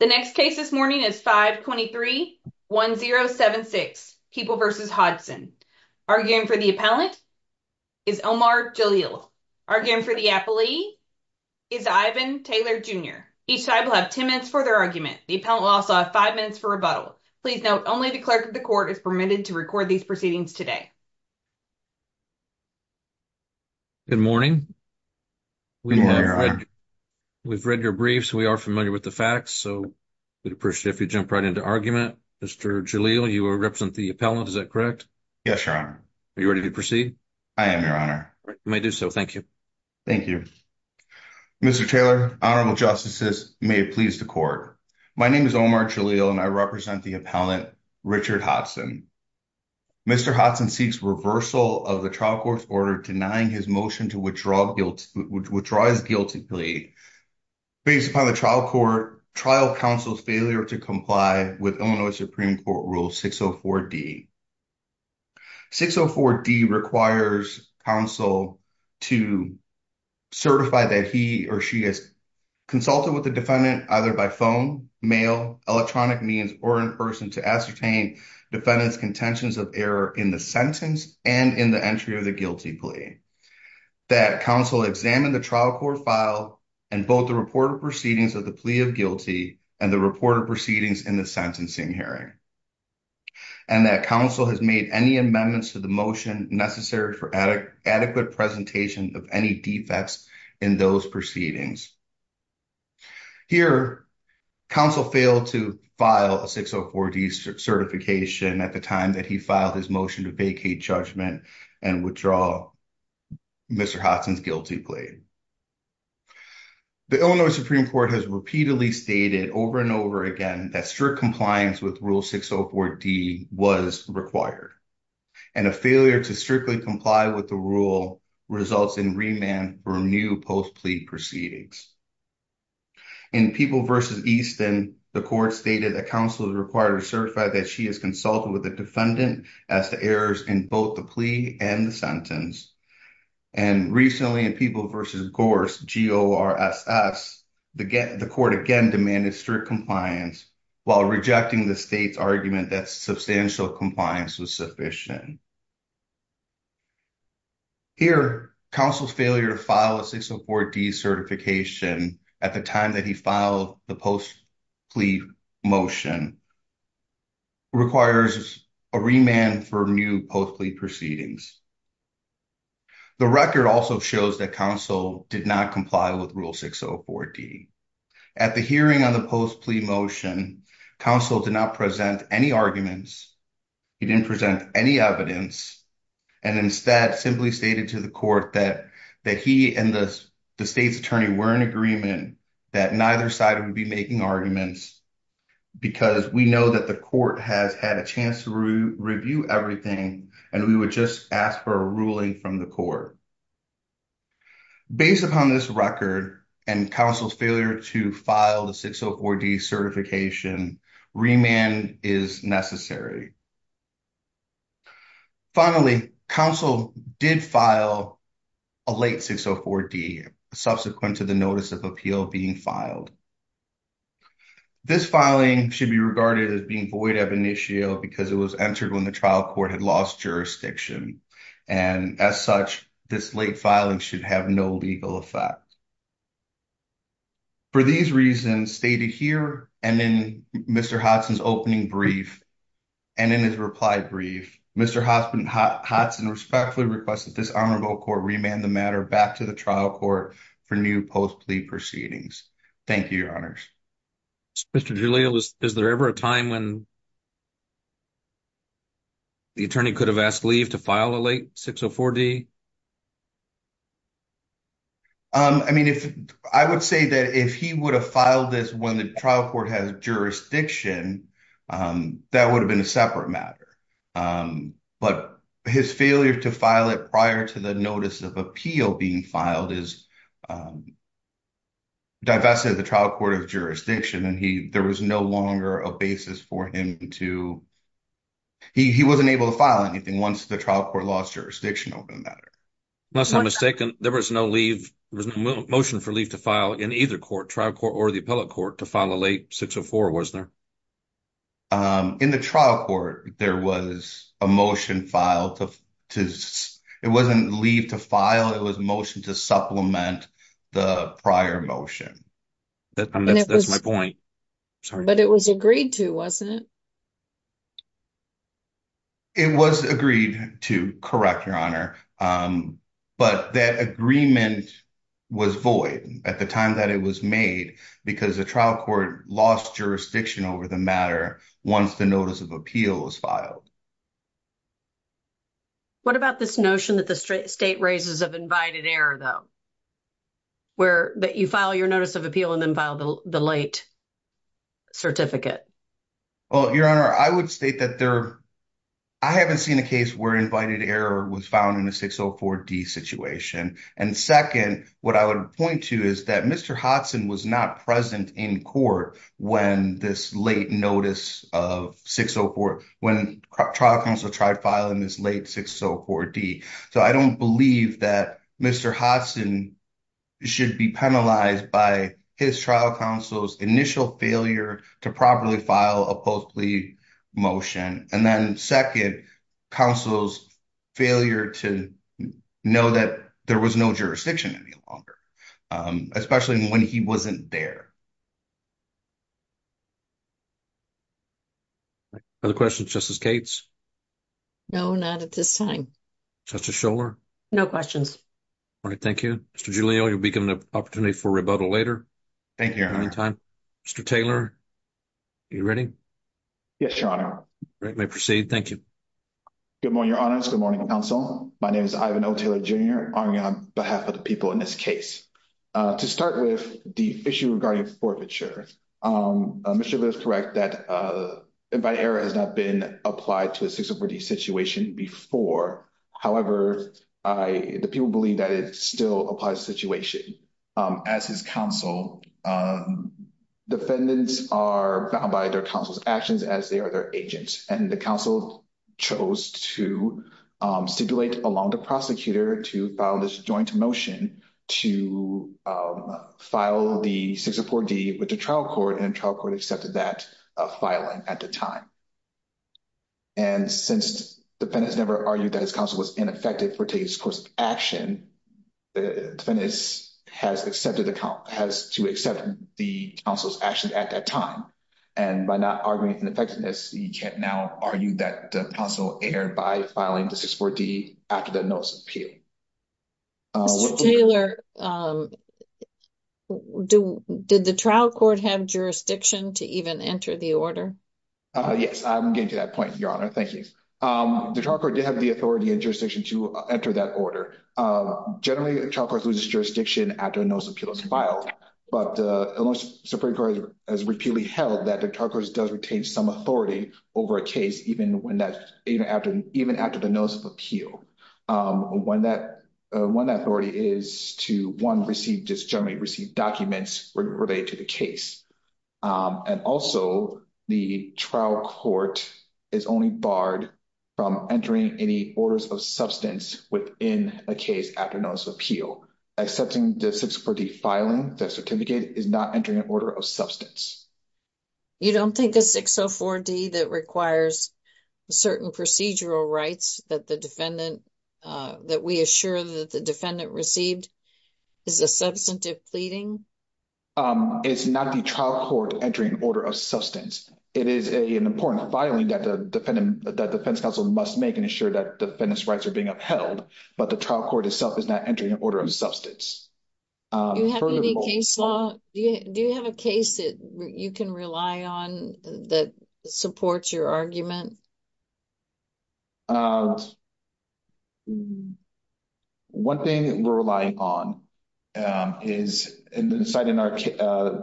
The next case this morning is 5231076 People v. Hodson. Arguing for the appellant is Omar Jalil. Arguing for the appellee is Ivan Taylor Jr. Each side will have 10 minutes for their argument. The appellant will also have 5 minutes for rebuttal. Please note, only the clerk of the court is permitted to record these proceedings today. Good morning. Good morning, Your Honor. We've read your briefs. We are familiar with the facts, so we'd appreciate if you'd jump right into argument. Mr. Jalil, you represent the appellant, is that correct? Yes, Your Honor. Are you ready to proceed? I am, Your Honor. You may do so. Thank you. Thank you. Mr. Taylor, Honorable Justices, may it please the court. My name is Omar Jalil, and I represent the appellant, Richard Hodson. Mr. Hodson seeks reversal of the trial court's order denying his motion to withdraw his guilty plea based upon the trial counsel's failure to comply with Illinois Supreme Court Rule 604D. 604D requires counsel to certify that he or she has consulted with the defendant either by phone, mail, electronic means, or in person to ascertain defendant's contentions of error in the sentence proceedings and in the entry of the guilty plea, that counsel examine the trial court file and both the reported proceedings of the plea of guilty and the reported proceedings in the sentencing hearing, and that counsel has made any amendments to the motion necessary for adequate presentation of any defects in those proceedings. Here, counsel failed to file a 604D certification at the time that he filed his motion to vacate judgment and withdraw Mr. Hodson's guilty plea. The Illinois Supreme Court has repeatedly stated over and over again that strict compliance with Rule 604D was required, and a failure to strictly comply with the rule results in remand for new post-plea proceedings. In People v. Easton, the court stated that counsel is required to certify that she has consulted with the defendant as to errors in both the plea and the sentence, and recently in People v. Gorse, G-O-R-S-S, the court again demanded strict compliance while rejecting the state's argument that substantial compliance was sufficient. Here, counsel's failure to file a 604D certification at the time that he filed the post-plea motion requires a remand for new post-plea proceedings. The record also shows that counsel did not comply with Rule 604D. At the hearing on the post-plea motion, counsel did not present any arguments, he didn't present any evidence, and instead simply stated to the court that he and the state's attorney were in agreement that neither side would be making arguments because we know that the court has had a chance to review everything and we would just ask for a ruling from the court. Based upon this record and counsel's failure to file the 604D certification, remand is necessary. Finally, counsel did file a late 604D subsequent to the notice of appeal being filed. This filing should be regarded as being void of initio because it was entered when the trial court had lost jurisdiction, and as such, this late filing should have no legal effect. For these reasons stated here and in Mr. Hodson's opening brief and in his reply brief, Mr. Hodson respectfully requests that this honorable court remand the matter back to the trial court for new post-plea proceedings. Thank you, your honors. Mr. Julio, is there ever a time when the attorney could have asked leave to file a late 604D? I would say that if he would have filed this when the trial court had jurisdiction, that would have been a separate matter. But his failure to file it prior to the notice of appeal being filed divested the trial court of jurisdiction, and there was no longer a basis for him to, he wasn't able to file anything once the trial court lost jurisdiction over the matter. There was no motion for leave to file in either trial court or the appellate court to file a late 604, was there? In the trial court, there was a motion filed to, it wasn't leave to file, it was a motion to supplement the prior motion. That's my point. But it was agreed to, wasn't it? It was agreed to, correct, your honor, but that agreement was void at the time that it was made because the trial court lost jurisdiction over the matter once the notice of appeal was filed. What about this notion that the state raises of invited error, though? That you file your notice of appeal and then file the late certificate? Well, your honor, I would state that there, I haven't seen a case where invited error was found in a 604D situation. And second, what I would point to is that Mr. Hodgson was not present in court when this late notice of 604, when trial counsel tried filing this late 604D. So I don't believe that Mr. Hodgson should be penalized by his trial counsel's initial failure to properly file a post-plea motion. And then second, counsel's failure to know that there was no jurisdiction any longer. Especially when he wasn't there. Other questions, Justice Cates? No, not at this time. Justice Scholar? No questions. Mr. Giulio, you'll be given the opportunity for rebuttal later. Mr. Taylor, are you ready? Yes, your honor. Good morning, your honors, good morning, counsel. My name is Ivan O. Taylor, Jr. I'm on behalf of the people in this case. To start with, the issue regarding forfeiture. Mr. Giulio is correct that invited error has not been applied to a 604D situation before. However, the people believe that it still applies to the situation. As his counsel, defendants are bound by their counsel's actions as they are their agents. And the counsel chose to stipulate along the prosecutor to file this joint motion to file the 604D with the trial court and the trial court accepted that filing at the time. And since defendants never argued that his counsel was ineffective for taking this course of action, defendants has to accept the counsel's actions at that time. And by not arguing ineffectiveness, he can now argue that the counsel erred by filing the 604D after the notice of appeal. Mr. Taylor, did the trial court have jurisdiction to even enter the order? Yes, I'm getting to that point, your honor. Thank you. The trial court did have the authority and jurisdiction to enter that order. Generally, the trial court loses jurisdiction after the notice of appeal is filed. But the Supreme Court has repeatedly held that the trial court does retain some authority over a case even after the notice of appeal. One authority is to, one, receive documents related to the case. And also, the trial court is only barred from entering any orders of substance within a case after notice of appeal. Accepting the 604D filing, the certificate, is not entering an order of substance. You don't think the 604D that requires certain procedural rights that the defendant, that we assure that the defendant received is a substantive pleading? It's not the trial court entering an order of substance. It is an important filing that the defense counsel must make and ensure that the defendant's rights are being upheld. But the trial court itself is not entering an order of substance. Do you have any case law, do you have a case that you can rely on that supports your argument? One thing that we're relying on is, in our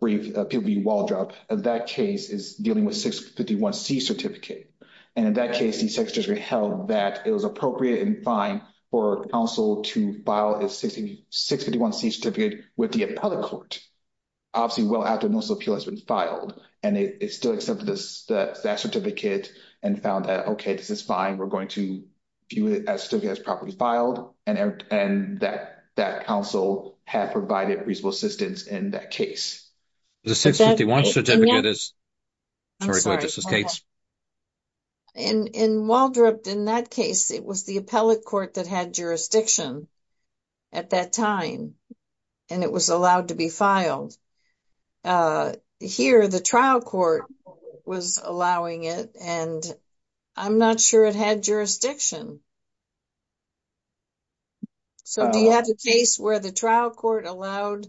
brief, that case is dealing with 651C certificate. And in that case, the secretary held that it was appropriate and fine for counsel to file a 651C certificate with the appellate court, obviously well after notice of appeal has been filed. And it still accepted that certificate and found that, okay, this is fine. We're going to view it as properly filed. And that counsel had provided reasonable assistance in that case. The 651C certificate is... In Waldrop, in that case, it was the appellate court that had jurisdiction at that time. And it was allowed to be filed. Here, the trial court was allowing it, and I'm not sure it had jurisdiction. Do you have a case where the trial court allowed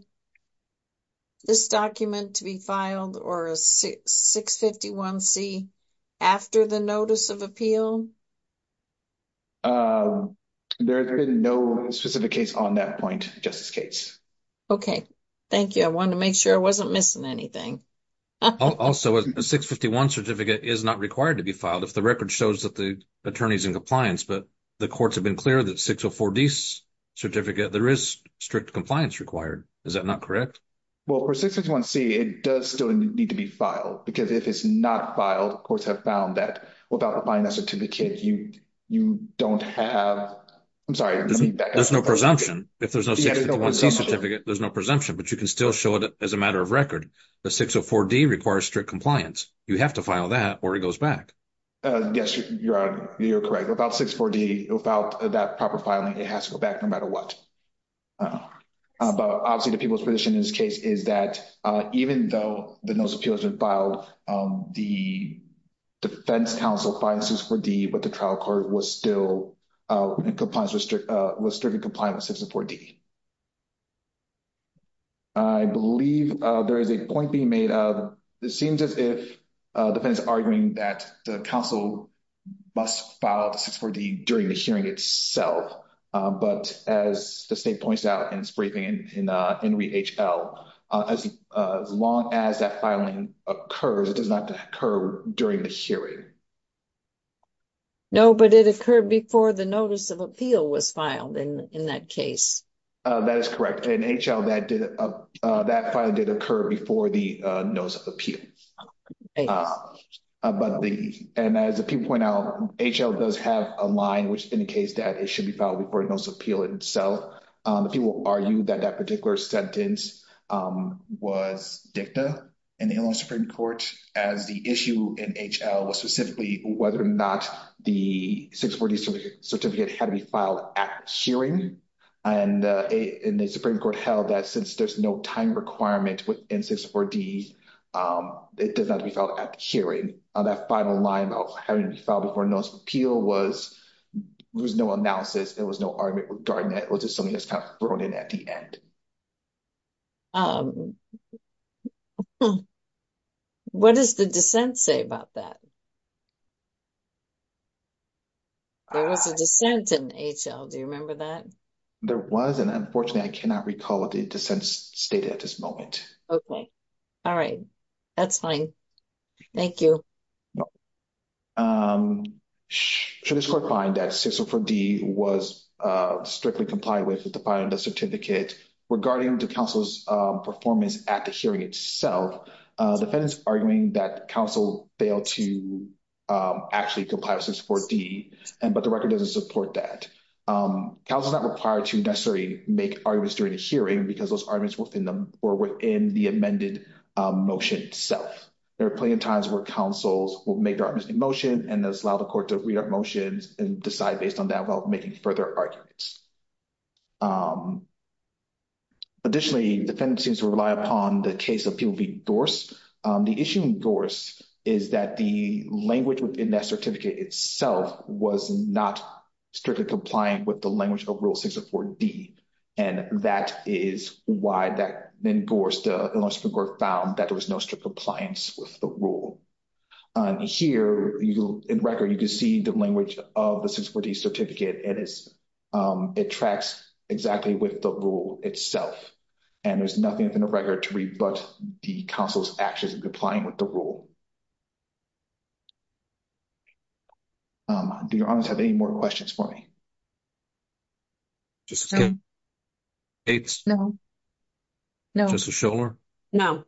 this document to be filed, or a 651C after the notice of appeal? There has been no specific case on that point, Justice Cates. Okay. Thank you. I wanted to make sure I wasn't missing anything. Also, a 651C certificate is not required to be filed if the record shows that the attorney is in compliance. But the courts have been clear that 604D's certificate, there is strict compliance required. Is that not correct? Well, for 651C, it does still need to be filed. Because if it's not filed, courts have found that without applying that certificate, you don't have... I'm sorry. There's no presumption. If there's no 651C certificate, there's no presumption. But you can still show it as a matter of record. The 604D requires strict compliance. You have to file that, or it goes back. Yes, you're correct. Without 64D, without that proper filing, it has to go back no matter what. But obviously, the people's position in this case is that even though the notice of appeal has been filed, the defense counsel filed 64D, but the trial court was still in strict compliance with 64D. I believe there is a point being made. It seems as if the defense is arguing that the counsel must file 64D during the hearing itself. But as the state points out in its briefing in NHL, as long as that filing occurs, it does not occur during the hearing. No, but it occurred before the notice of appeal was filed in that case. That is correct. In NHL, that filing did occur before the notice of appeal. And as the people point out, NHL does have a line which indicates that it should be filed before the notice of appeal itself. The people argue that that particular sentence was dicta in the Illinois Supreme Court as the issue in NHL was specifically whether or not the 64D certificate had to be filed at the hearing. And the Supreme Court held that since there's no time requirement within 64D, it does not have to be filed at the hearing. That final line of having it filed before the notice of appeal was there was no analysis. There was no argument regarding that. It was just something that was thrown in at the end. Okay. What does the dissent say about that? There was a dissent in NHL. Do you remember that? There was, and unfortunately, I cannot recall what the dissent stated at this moment. Okay. All right. That's fine. Thank you. Should the court find that 64D was strictly compliant with the filing of the certificate regarding the counsel's performance at the hearing itself, the defense is arguing that counsel failed to actually comply with 64D, but the record doesn't support that. Counsel is not required to necessarily make arguments during the hearing because those arguments were within the amended motion itself. There are plenty of times where counsels will make their arguments in motion and then allow the court to read our motions and decide based on that without making further arguments. Additionally, the defense seems to rely upon the case of Peel v. Gorse. The issue in Gorse is that the language within that certificate itself was not strictly compliant with the language of Rule 64D, and that is why in Gorse, the Illinois Supreme Court found that there was no strict compliance with the rule. Here, in record, you can see the language of the 64D certificate. It tracks exactly with the rule itself, and there's nothing within the record to rebut the counsel's actions in complying with the rule. Do your honors have any more questions for me? No. No. No.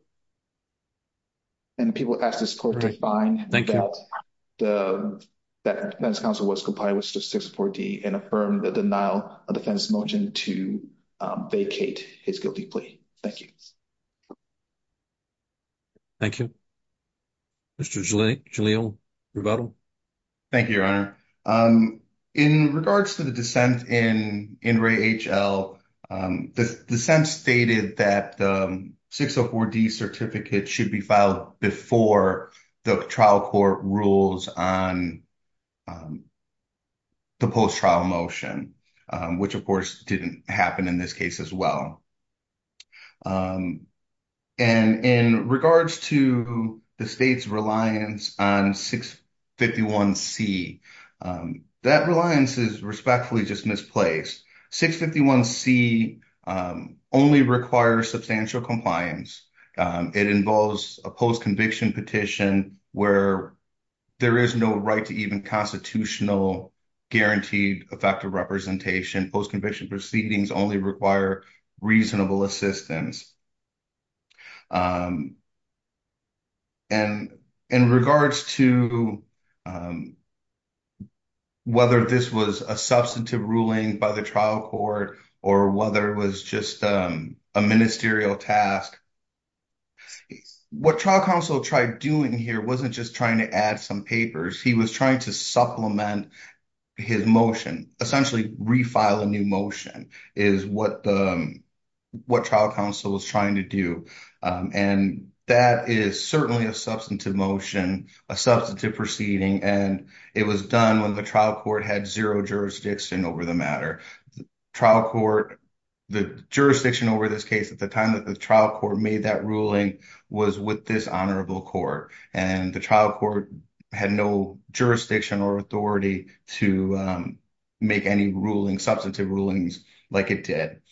And if people ask the court to find that the defense counsel was compliant with Rule 64D and affirm the denial of defense motion to vacate his guilty plea. Thank you. Thank you. Mr. Jalil Rebuttal. Thank you, Your Honor. In regards to the dissent in Ray H.L., the dissent stated that the 604D certificate should be filed before the trial court rules on the post-trial motion, which of course didn't happen in this case as well. And in regards to the state's reliance on 651C, that reliance is respectfully just misplaced. 651C only requires substantial compliance. It involves a post-conviction petition where there is no right to even constitutional guaranteed effective representation. Post-conviction proceedings only require reasonable assistance. And in regards to whether this was a substantive ruling by the trial court or whether it was just a ministerial task, what trial counsel tried doing here wasn't just trying to add some papers. He was trying to supplement his motion, essentially refile a new motion, is what trial counsel was trying to do. And that is certainly a substantive motion, a substantive proceeding, and it was done when the trial court had zero jurisdiction over the matter. The jurisdiction over this case at the time that the trial court made that ruling was with this honorable court. And the trial court had no jurisdiction or authority to make any substantive rulings like it did.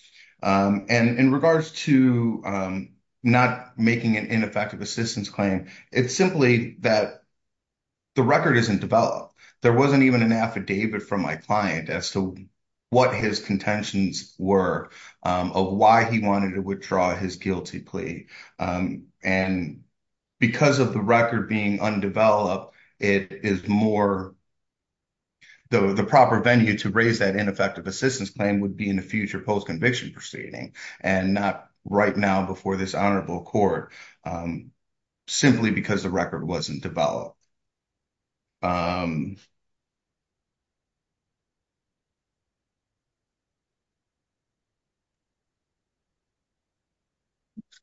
And in regards to not making an ineffective assistance claim, it's simply that the record isn't developed. There wasn't even an affidavit from my client as to what his contentions were of why he wanted to withdraw his guilty plea. And because of the record being undeveloped, it is more the proper venue to raise that ineffective assistance claim would be in a future post-conviction proceeding and not right now before this honorable court simply because the record wasn't developed.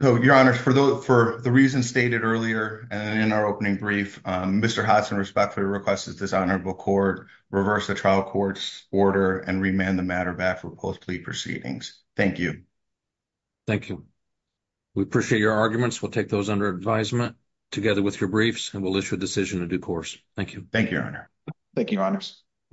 Your Honor, for the reasons stated earlier in our opening brief, Mr. Hudson respectfully requests that this honorable court reverse the trial court's order and remand the matter back for post-plea proceedings. Thank you. Thank you. We appreciate your arguments. We'll take those under advisement together with your briefs, and we'll issue a decision on the matter. Thank you. Thank you, Your Honor.